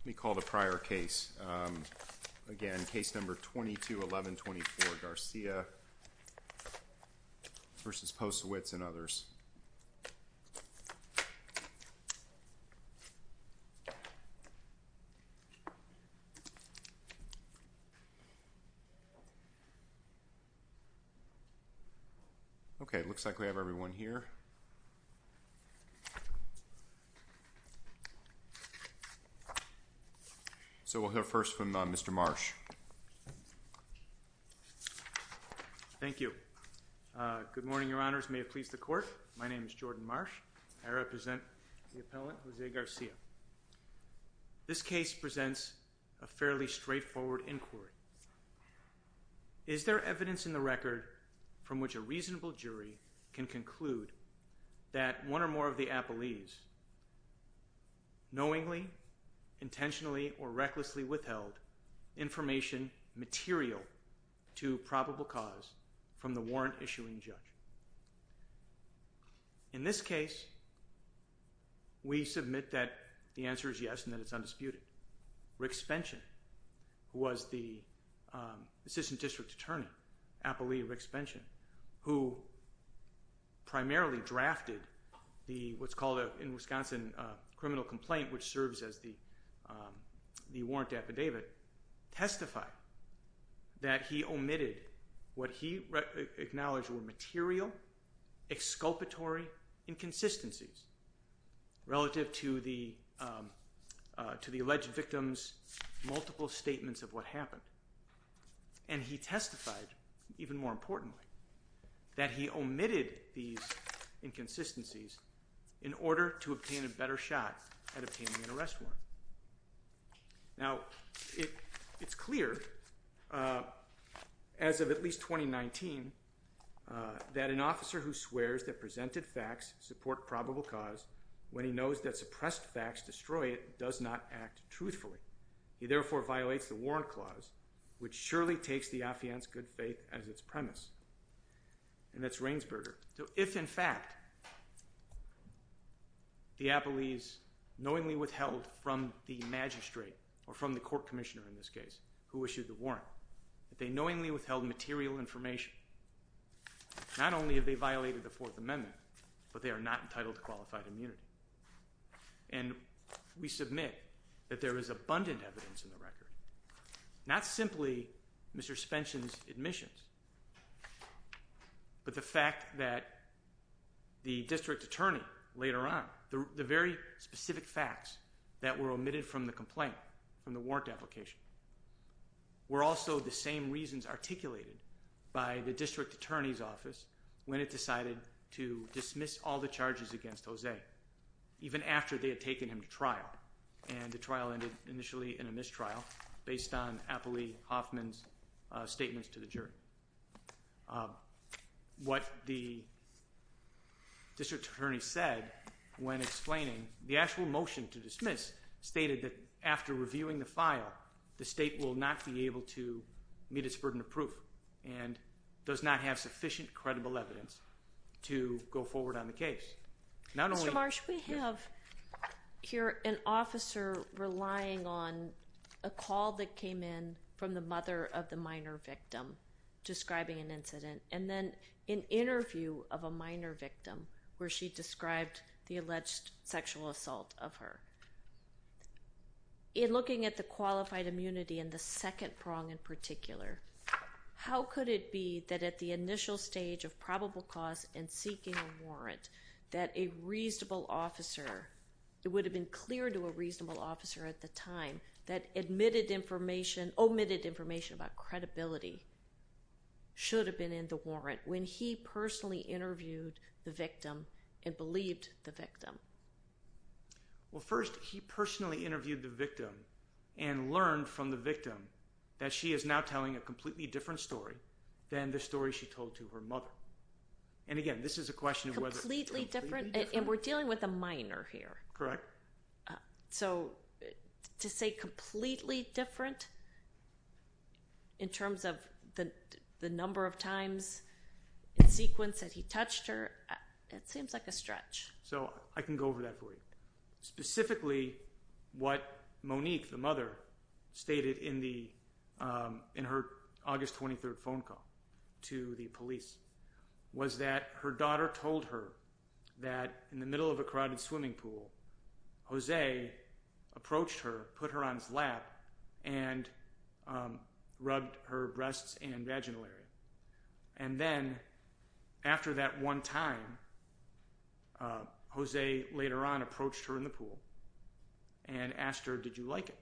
Let me call the prior case. Again, case number 22-1124, Garcia v. Posewitz and others. Okay, looks like we have everyone here. So we'll hear first from Mr. Marsh. Thank you. Good morning, your honors. May it please the court. My name is Jordan Marsh. I represent the appellant, Jose Garcia. This case presents a fairly straightforward inquiry. Is there evidence in the record from which a reasonable jury can conclude that one or more of the information material to probable cause from the warrant-issuing judge? In this case, we submit that the answer is yes and that it's undisputed. Rick Spension, who was the assistant district attorney, appellee Rick Spension, who primarily drafted what's called in Wisconsin a criminal complaint, which serves as the warrant affidavit, testified that he omitted what he acknowledged were material, exculpatory inconsistencies relative to the alleged victim's multiple statements of what happened. And he testified, even more importantly, that he omitted these inconsistencies in order to obtain an arrest warrant. Now, it's clear, as of at least 2019, that an officer who swears that presented facts support probable cause when he knows that suppressed facts destroy it does not act truthfully. He therefore violates the warrant clause, which surely takes the affiant's good faith as its premise. And that's Rainsberger. If, in fact, the appellees knowingly withheld from the magistrate, or from the court commissioner in this case, who issued the warrant, that they knowingly withheld material information, not only have they violated the Fourth Amendment, but they are not entitled to qualified But the fact that the district attorney later on, the very specific facts that were omitted from the complaint, from the warrant application, were also the same reasons articulated by the district attorney's office when it decided to dismiss all the charges against Jose, even after they had taken him to trial. And the trial ended initially in a mistrial, based on appellee Hoffman's statements to the jury. What the district attorney said when explaining the actual motion to dismiss stated that after reviewing the file, the state will not be able to meet its burden of proof, and does not have sufficient credible evidence to go forward on the case. Mr. Marsh, we have here an officer relying on a call that came in from the mother of the minor victim describing an incident, and then an interview of a minor First, he personally interviewed the victim, and learned from the victim that she is now telling a completely different story than the story she told to her mother. And again, this is a question of whether... Completely different? And we're dealing with a minor here. Correct. So, to say completely different, in terms of the number of times in sequence that he touched her, it seems like a stretch. So, I can go over that for you. Specifically, what Monique, the mother, stated in her August 23rd phone call to the police, was that her daughter told her that in the middle of a crowded swimming pool, Jose approached her, put her on his lap, and rubbed her breasts and vaginal area. And then, after that one time, Jose later on approached her in the pool and asked her, did you like it?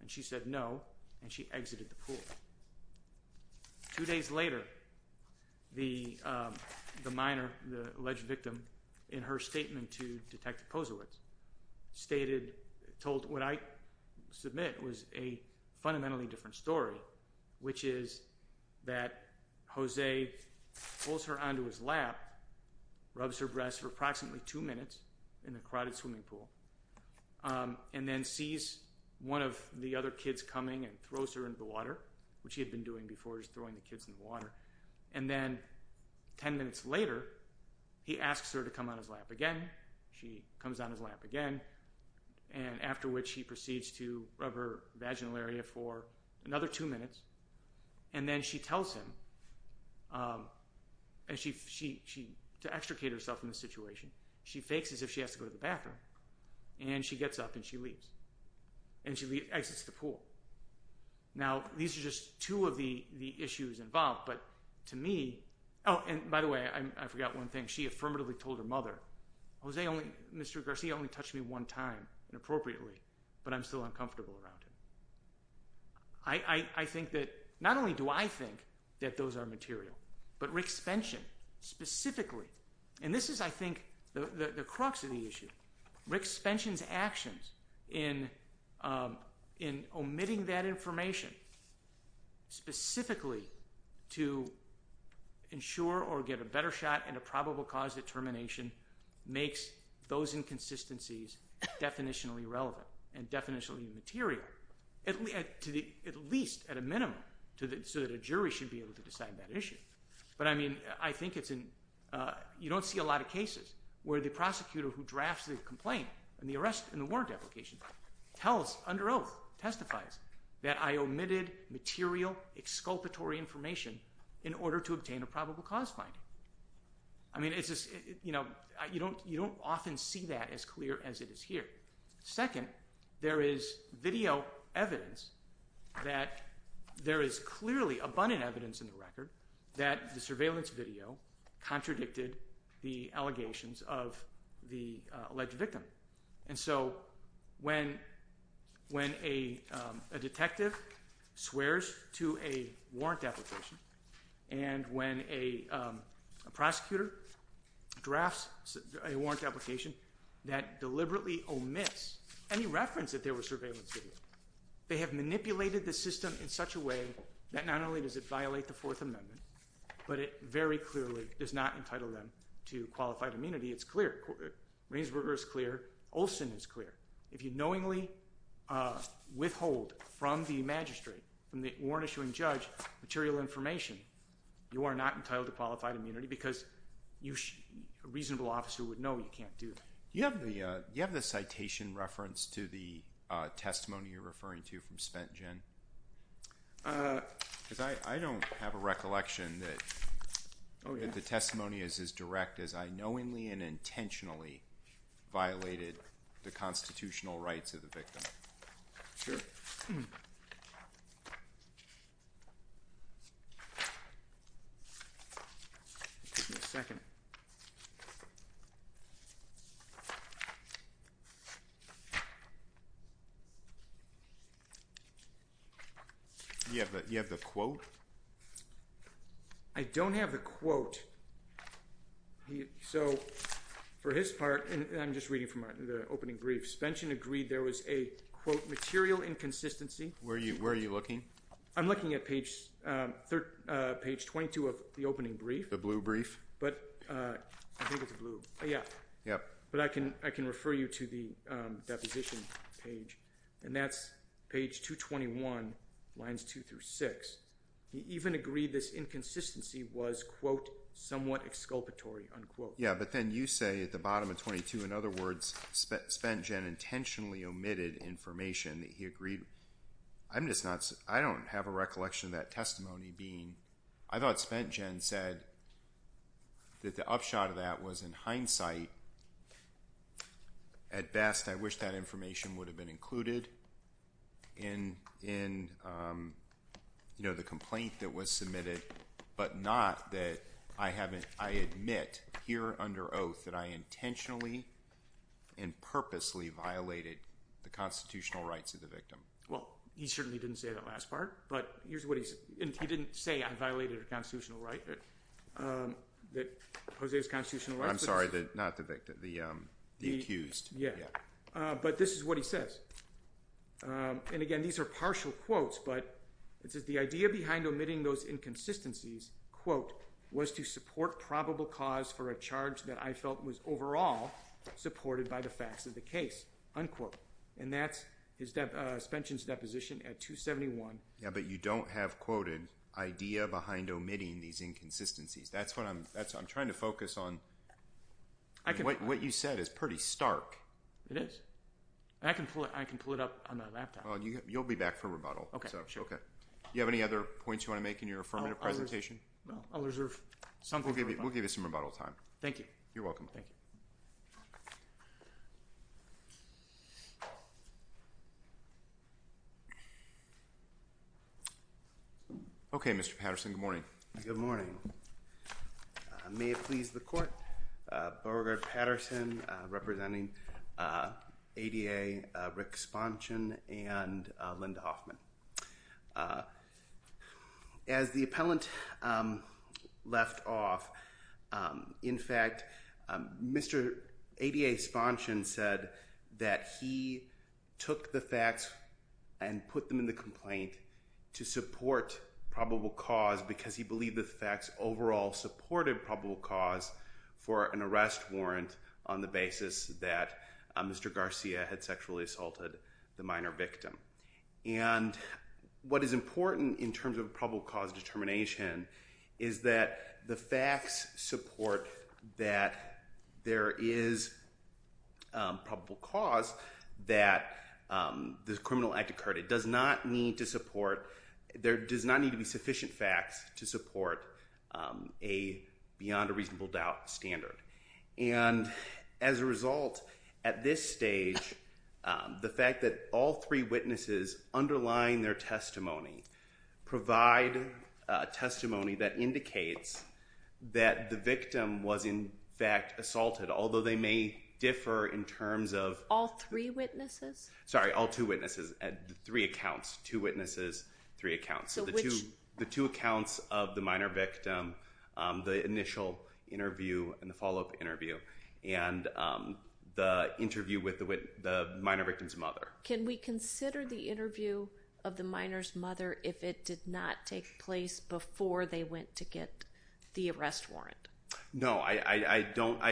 And she said no, and she exited the pool. Two days later, the minor, the alleged victim, in her statement to Detective Kozowitz, stated, told what I submit was a fundamentally different story, which is that Jose pulls her onto his lap, rubs her breasts for approximately two minutes in the crowded swimming pool, and then sees one of the other kids coming and throws her into the water, which he had been doing before, he's throwing the kids in the water. And then, ten minutes later, he asks her to come on his lap again. She comes on his lap again, and after which he proceeds to rub her vaginal area for another two minutes, and then she tells him, to extricate herself from the situation, she fakes as if she has to go to the bathroom, and she gets up and she leaves. And she exits the pool. Now, these are just two of the issues involved, but to me, oh, and by the way, I forgot one thing, she affirmatively told her mother, Jose, Mr. Garcia only touched me one time inappropriately, but I'm still uncomfortable around him. I think that, not only do I think that those are material, but Rick's suspension, specifically, and this is, I think, the crux of the issue. Rick's suspension's actions in omitting that information specifically to ensure or get a better shot and a probable cause determination makes those inconsistencies definitionally relevant and definitionally material, at least at a minimum, so that a jury should be able to decide that issue. But, I mean, I think it's in, you don't see a lot of cases where the prosecutor who drafts the complaint and the warrant application tells, under oath, testifies that I omitted material, exculpatory information in order to obtain a probable cause finding. I mean, it's just, you don't often see that as clear as it is here. Second, there is video evidence that there is clearly abundant evidence in the record that the surveillance video contradicted the allegations of the alleged victim. And so, when a detective swears to a warrant application and when a prosecutor drafts a warrant application that deliberately omits any reference that there was surveillance video, they have manipulated the system in such a way that not only does it violate the Fourth Amendment, but it very clearly does not entitle them to qualified immunity. It's clear. Reinsberger is clear. Olson is clear. If you knowingly withhold from the magistrate, from the warrant issuing judge, material information, you are not entitled to qualified immunity because a reasonable officer would know you can't do that. Do you have the citation reference to the testimony you're referring to from spent gin? Because I don't have a recollection that the testimony is as direct as I knowingly and intentionally violated the constitutional rights of the victim. Sure. Give me a second. Yeah, but you have the quote. I don't have the quote. So, for his part, and I'm just reading from the opening brief, spent gin agreed there was a, quote, material inconsistency. Where are you looking? I'm looking at page 22 of the opening brief. The blue brief? But I think it's blue. Yeah. But I can refer you to the deposition page, and that's page 221, lines 2 through 6. He even agreed this inconsistency was, quote, somewhat exculpatory, unquote. Yeah, but then you say at the bottom of 22, in other words, spent gin intentionally omitted information that he agreed. I'm just not, I don't have a recollection of that testimony being, I thought spent gin said that the upshot of that was in hindsight. Well, he certainly didn't say that last part, but here's what he said. He didn't say I violated a constitutional right, that Jose's constitutional rights. I'm sorry, not the victim, the accused. Yeah. But this is what he says. And again, these are partial quotes, but it says the idea behind omitting those inconsistencies, quote, was to support probable cause for a charge that I felt was overall supported by the facts of the case, unquote. And that's spent gin's deposition at 271. Yeah, but you don't have quoted idea behind omitting these inconsistencies. That's what I'm trying to focus on. What you said is pretty stark. It is. I can pull it up on my laptop. Well, you'll be back for rebuttal. Okay, sure. Do you have any other points you want to make in your affirmative presentation? Well, I'll reserve. We'll give you some rebuttal time. Thank you. You're welcome. Thank you. Okay, Mr. Patterson, good morning. Good morning. Patterson representing ADA, Rick Sponson and Linda Hoffman. As the appellant left off, in fact, Mr. ADA Sponson said that he took the facts and put them in the complaint to support probable cause because he believed the facts overall supported probable cause for an arrest warrant on the basis that Mr. Garcia had sexually assaulted the minor victim. And what is important in terms of probable cause determination is that the facts support that there is probable cause that the criminal act occurred. It does not need to support – there does not need to be sufficient facts to support a beyond a reasonable doubt standard. And as a result, at this stage, the fact that all three witnesses underlying their testimony provide testimony that indicates that the victim was in fact assaulted, although they may differ in terms of – All three witnesses? Sorry, all two witnesses. Three accounts. Two witnesses, three accounts. So which – And the interview with the minor victim's mother. Can we consider the interview of the minor's mother if it did not take place before they went to get the arrest warrant? No, I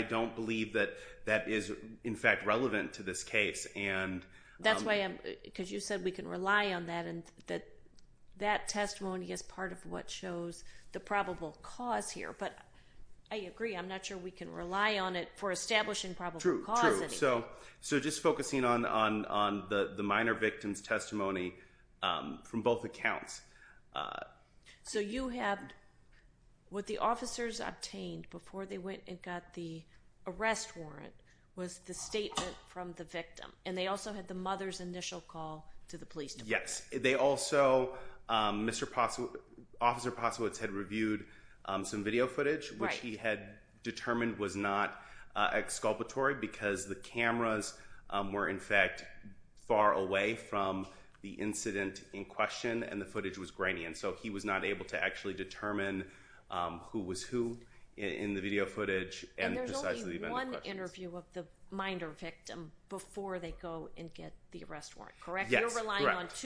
don't believe that that is in fact relevant to this case. That's why I'm – because you said we can rely on that and that that testimony is part of what shows the probable cause here. But I agree. I'm not sure we can rely on it for establishing probable cause. True, true. So just focusing on the minor victim's testimony from both accounts. So you have – what the officers obtained before they went and got the arrest warrant was the statement from the victim. And they also had the mother's initial call to the police department. Yes. They also – Mr. – Officer Posowitz had reviewed some video footage which he had determined was not exculpatory because the cameras were in fact far away from the incident in question and the footage was grainy. And so he was not able to actually determine who was who in the video footage and precisely the event in question. And there's only one interview of the minor victim before they go and get the arrest warrant, correct? Yes, correct.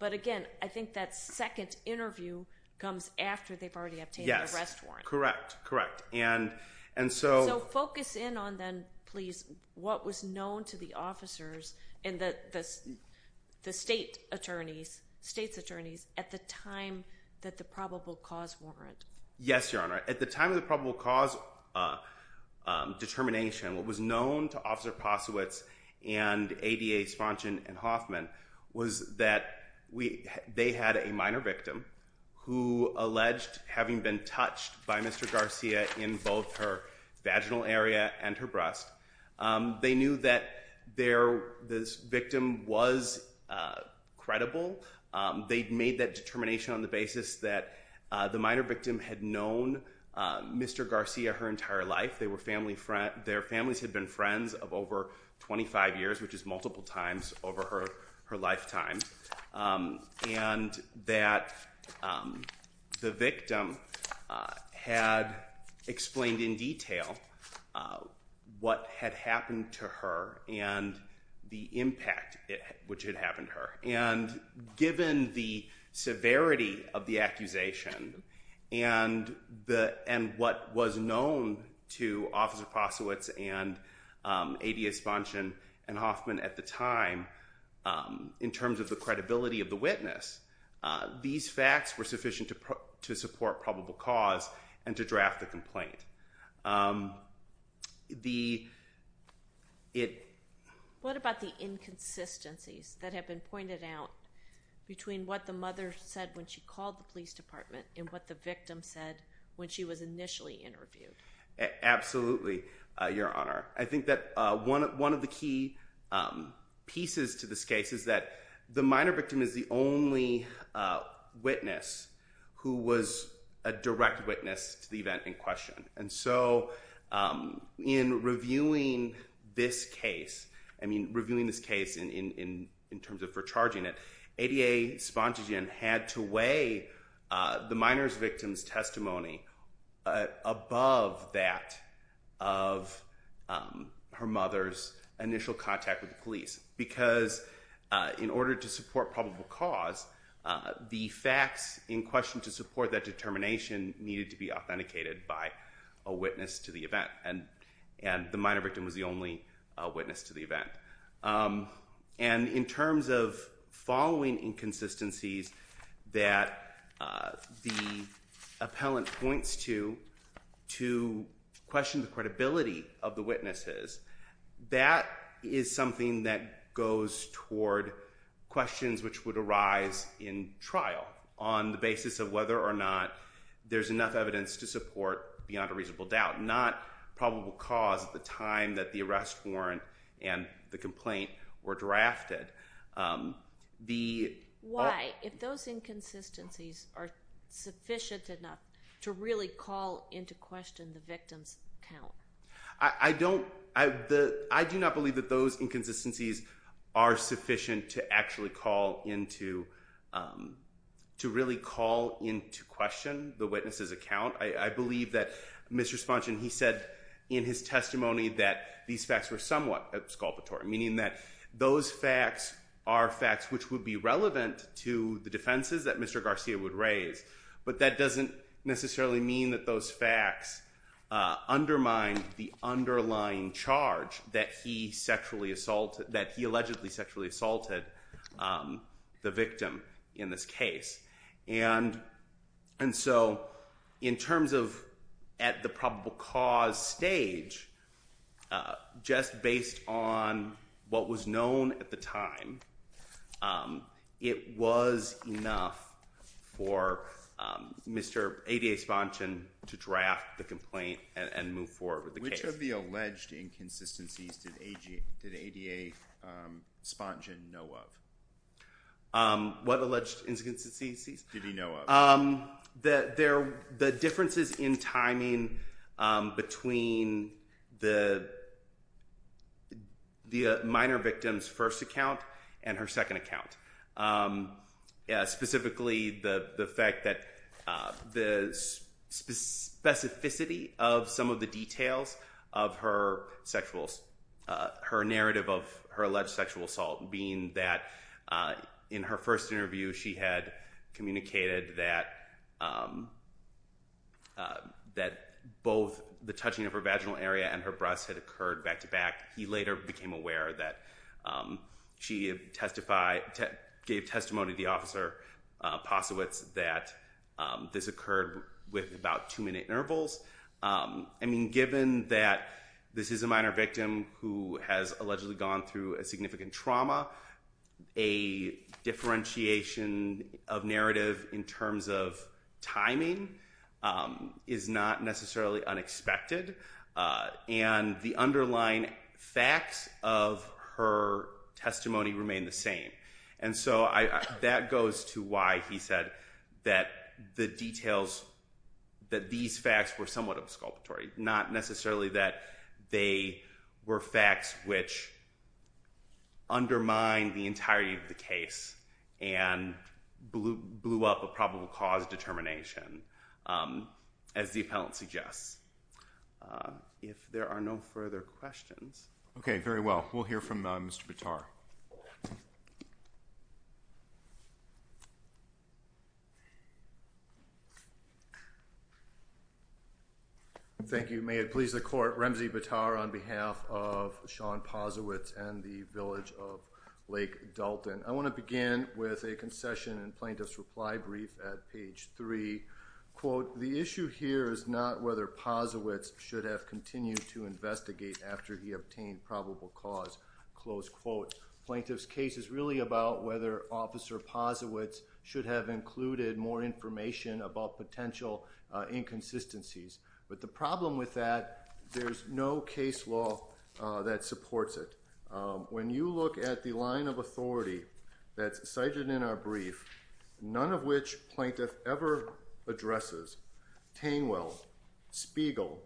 But again, I think that second interview comes after they've already obtained the arrest warrant. Yes, correct, correct. And so – So focus in on then, please, what was known to the officers and the state attorneys – state's attorneys at the time that the probable cause warrant. Yes, Your Honor. At the time of the probable cause determination, what was known to Officer Posowitz and ADA Sponchen and Hoffman was that they had a minor victim who alleged having been touched by Mr. Garcia in both her vaginal area and her breast. They knew that their – this victim was credible. They'd made that determination on the basis that the minor victim had known Mr. Garcia her entire life. Their families had been friends of over 25 years, which is multiple times over her lifetime. And that the victim had explained in detail what had happened to her and the impact which had happened to her. And given the severity of the accusation and what was known to Officer Posowitz and ADA Sponchen and Hoffman at the time in terms of the credibility of the witness, these facts were sufficient to support probable cause and to draft the complaint. What about the inconsistencies that have been pointed out between what the mother said when she called the police department and what the victim said when she was initially interviewed? Absolutely, Your Honor. I think that one of the key pieces to this case is that the minor victim is the only witness who was a direct witness to the event in question. And so in reviewing this case, I mean reviewing this case in terms of recharging it, ADA Sponchen had to weigh the minor victim's testimony above that of her mother's initial contact with the police. Because in order to support probable cause, the facts in question to support that determination needed to be authenticated by a witness to the event. And the minor victim was the only witness to the event. And in terms of following inconsistencies that the appellant points to to question the credibility of the witnesses, that is something that goes toward questions which would arise in trial on the basis of whether or not there's enough evidence to support beyond a reasonable doubt. Not probable cause at the time that the arrest warrant and the complaint were drafted. Why, if those inconsistencies are sufficient enough to really call into question the victim's account? I don't, I do not believe that those inconsistencies are sufficient to actually call into, to really call into question the witness's account. I believe that Mr. Sponchen, he said in his testimony that these facts were somewhat exculpatory, meaning that those facts are facts which would be relevant to the defenses that Mr. Garcia would raise. But that doesn't necessarily mean that those facts undermine the underlying charge that he sexually assaulted, that he allegedly sexually assaulted the victim in this case. And so in terms of at the probable cause stage, just based on what was known at the time, it was enough for Mr. ADA Sponchen to draft the complaint and move forward with the case. Which of the alleged inconsistencies did ADA Sponchen know of? What alleged inconsistencies did he know of? The differences in timing between the minor victim's first account and her second account. Specifically, the fact that the specificity of some of the details of her sexual, her narrative of her alleged sexual assault, being that in her first interview she had communicated that both the touching of her vaginal area and her breasts had occurred back to back. He later became aware that she testified, gave testimony to the officer Posowitz that this occurred with about two minute intervals. I mean given that this is a minor victim who has allegedly gone through a significant trauma, a differentiation of narrative in terms of timing is not necessarily unexpected. And the underlying facts of her testimony remain the same. And so that goes to why he said that the details, that these facts were somewhat of a sculpture. Not necessarily that they were facts which undermine the entirety of the case and blew up a probable cause determination as the appellant suggests. If there are no further questions. Okay, very well. We'll hear from Mr. Bitar. Thank you. May it please the court, Ramsey Bitar on behalf of Sean Posowitz and the village of Lake Dalton. I want to begin with a concession and plaintiff's reply brief at page three. Quote, the issue here is not whether Posowitz should have continued to investigate after he obtained probable cause. Close quote. Plaintiff's case is really about whether officer Posowitz should have included more information about potential inconsistencies. But the problem with that, there's no case law that supports it. When you look at the line of authority that's cited in our brief, none of which plaintiff ever addresses, Tangwell, Spiegel,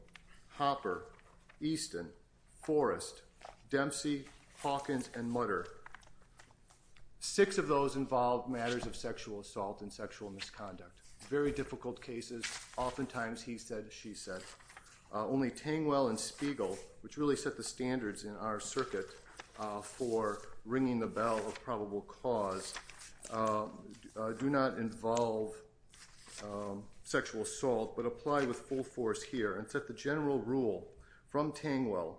Hopper, Easton, Forrest, Dempsey, Hawkins, and Mutter. Six of those involve matters of sexual assault and sexual misconduct. Very difficult cases. Oftentimes he said, she said. Only Tangwell and Spiegel, which really set the standards in our circuit for ringing the bell of probable cause, do not involve sexual assault but apply with full force here and set the general rule from Tangwell.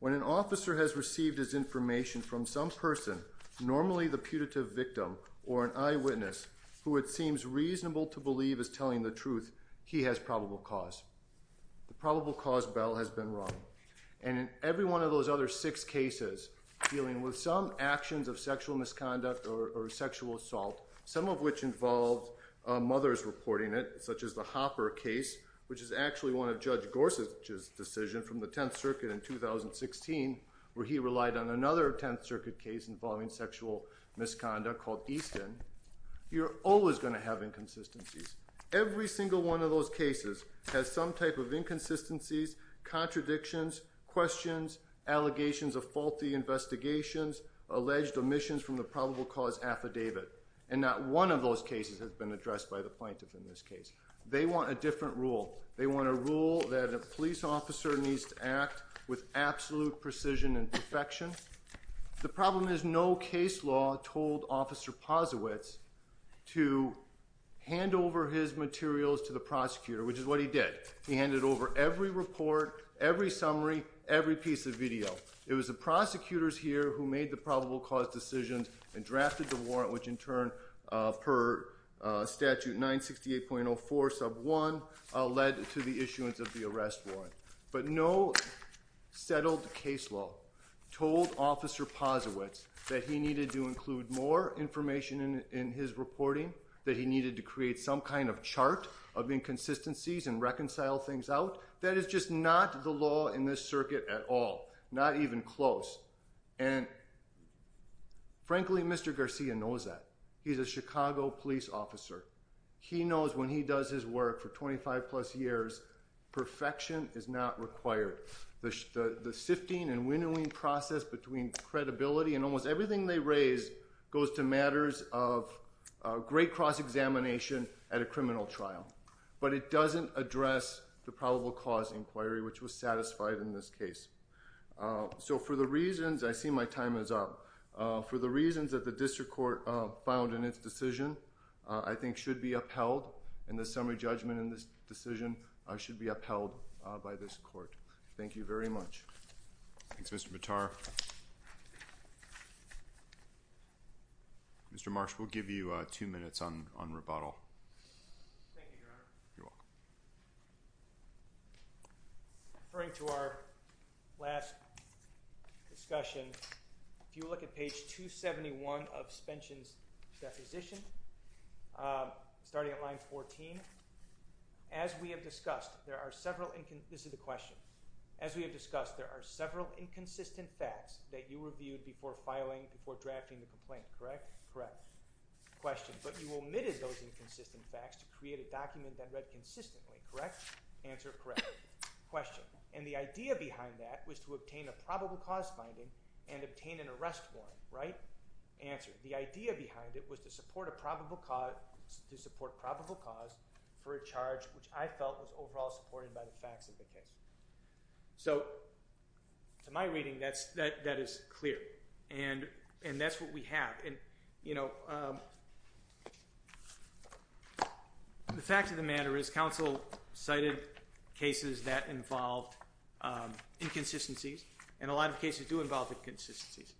When an officer has received his information from some person, normally the putative victim or an eyewitness, who it seems reasonable to believe is telling the truth, he has probable cause. The probable cause bell has been rung. And in every one of those other six cases dealing with some actions of sexual misconduct or sexual assault, some of which involve mothers reporting it, such as the Hopper case, which is actually one of Judge Gorsuch's decision from the Tenth Circuit in 2016, where he relied on another Tenth Circuit case involving sexual misconduct called Easton, you're always going to have inconsistencies. Every single one of those cases has some type of inconsistencies, contradictions, questions, allegations of faulty investigations, alleged omissions from the probable cause affidavit. And not one of those cases has been addressed by the plaintiff in this case. They want a different rule. They want a rule that a police officer needs to act with absolute precision and perfection. The problem is no case law told Officer Posowitz to hand over his materials to the prosecutor, which is what he did. He handed over every report, every summary, every piece of video. It was the prosecutors here who made the probable cause decisions and drafted the warrant, which in turn, per Statute 968.04 sub 1, led to the issuance of the arrest warrant. But no settled case law told Officer Posowitz that he needed to include more information in his reporting, that he needed to create some kind of chart of inconsistencies and reconcile things out. That is just not the law in this circuit at all, not even close. And frankly, Mr. Garcia knows that. He's a Chicago police officer. He knows when he does his work for 25 plus years, perfection is not required. The sifting and winnowing process between credibility and almost everything they raise goes to matters of great cross-examination at a criminal trial. But it doesn't address the probable cause inquiry, which was satisfied in this case. So for the reasons I see my time is up for the reasons that the district court filed in its decision, I think should be upheld in the summary judgment in this decision. I should be upheld by this court. Thank you very much. Thanks, Mr. Vitar. Mr. Marsh, we'll give you two minutes on on rebuttal. Thank you, Your Honor. You're welcome. Referring to our last discussion, if you look at page 271 of Spension's deposition, starting at line 14, as we have discussed, there are several – this is the question – as we have discussed, there are several inconsistent facts that you reviewed before filing, before drafting the complaint, correct? Correct. Question, but you omitted those inconsistent facts to create a document that read consistently, correct? Answer, correct. Question, and the idea behind that was to obtain a probable cause finding and obtain an arrest warrant, right? Answer, the idea behind it was to support a probable cause – to support probable cause for a charge, which I felt was overall supported by the facts of the case. So to my reading, that is clear, and that's what we have. And, you know, the fact of the matter is counsel cited cases that involved inconsistencies, and a lot of cases do involve inconsistencies.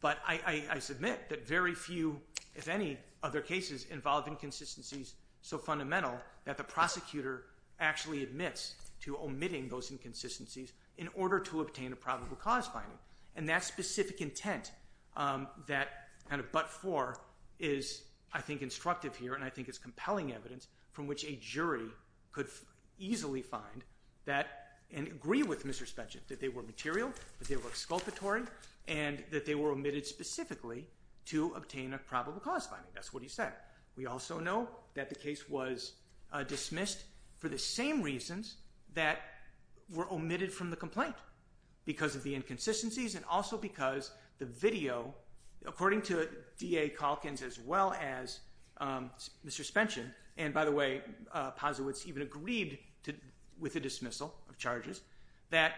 But I submit that very few, if any, other cases involve inconsistencies so fundamental that the prosecutor actually admits to omitting those inconsistencies in order to obtain a probable cause finding. And that specific intent, that kind of but for, is I think instructive here, and I think is compelling evidence from which a jury could easily find that and agree with Mr. Spencer that they were material, that they were exculpatory, and that they were omitted specifically to obtain a probable cause finding. That's what he said. We also know that the case was dismissed for the same reasons that were omitted from the complaint because of the inconsistencies and also because the video, according to DA Calkins as well as Mr. Spencer, and by the way, Pazowitz even agreed with the dismissal of charges, that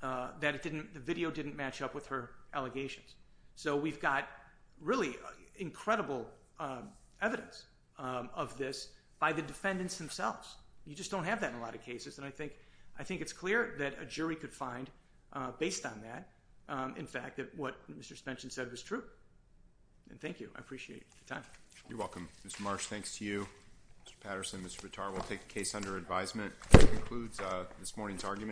the video didn't match up with her allegations. So we've got really incredible evidence of this by the defendants themselves. You just don't have that in a lot of cases, and I think it's clear that a jury could find based on that, in fact, that what Mr. Spencer said was true. And thank you. I appreciate your time. You're welcome. Mr. Marsh, thanks to you. Mr. Patterson, Mr. Vitar, we'll take the case under advisement. That concludes this morning's argument.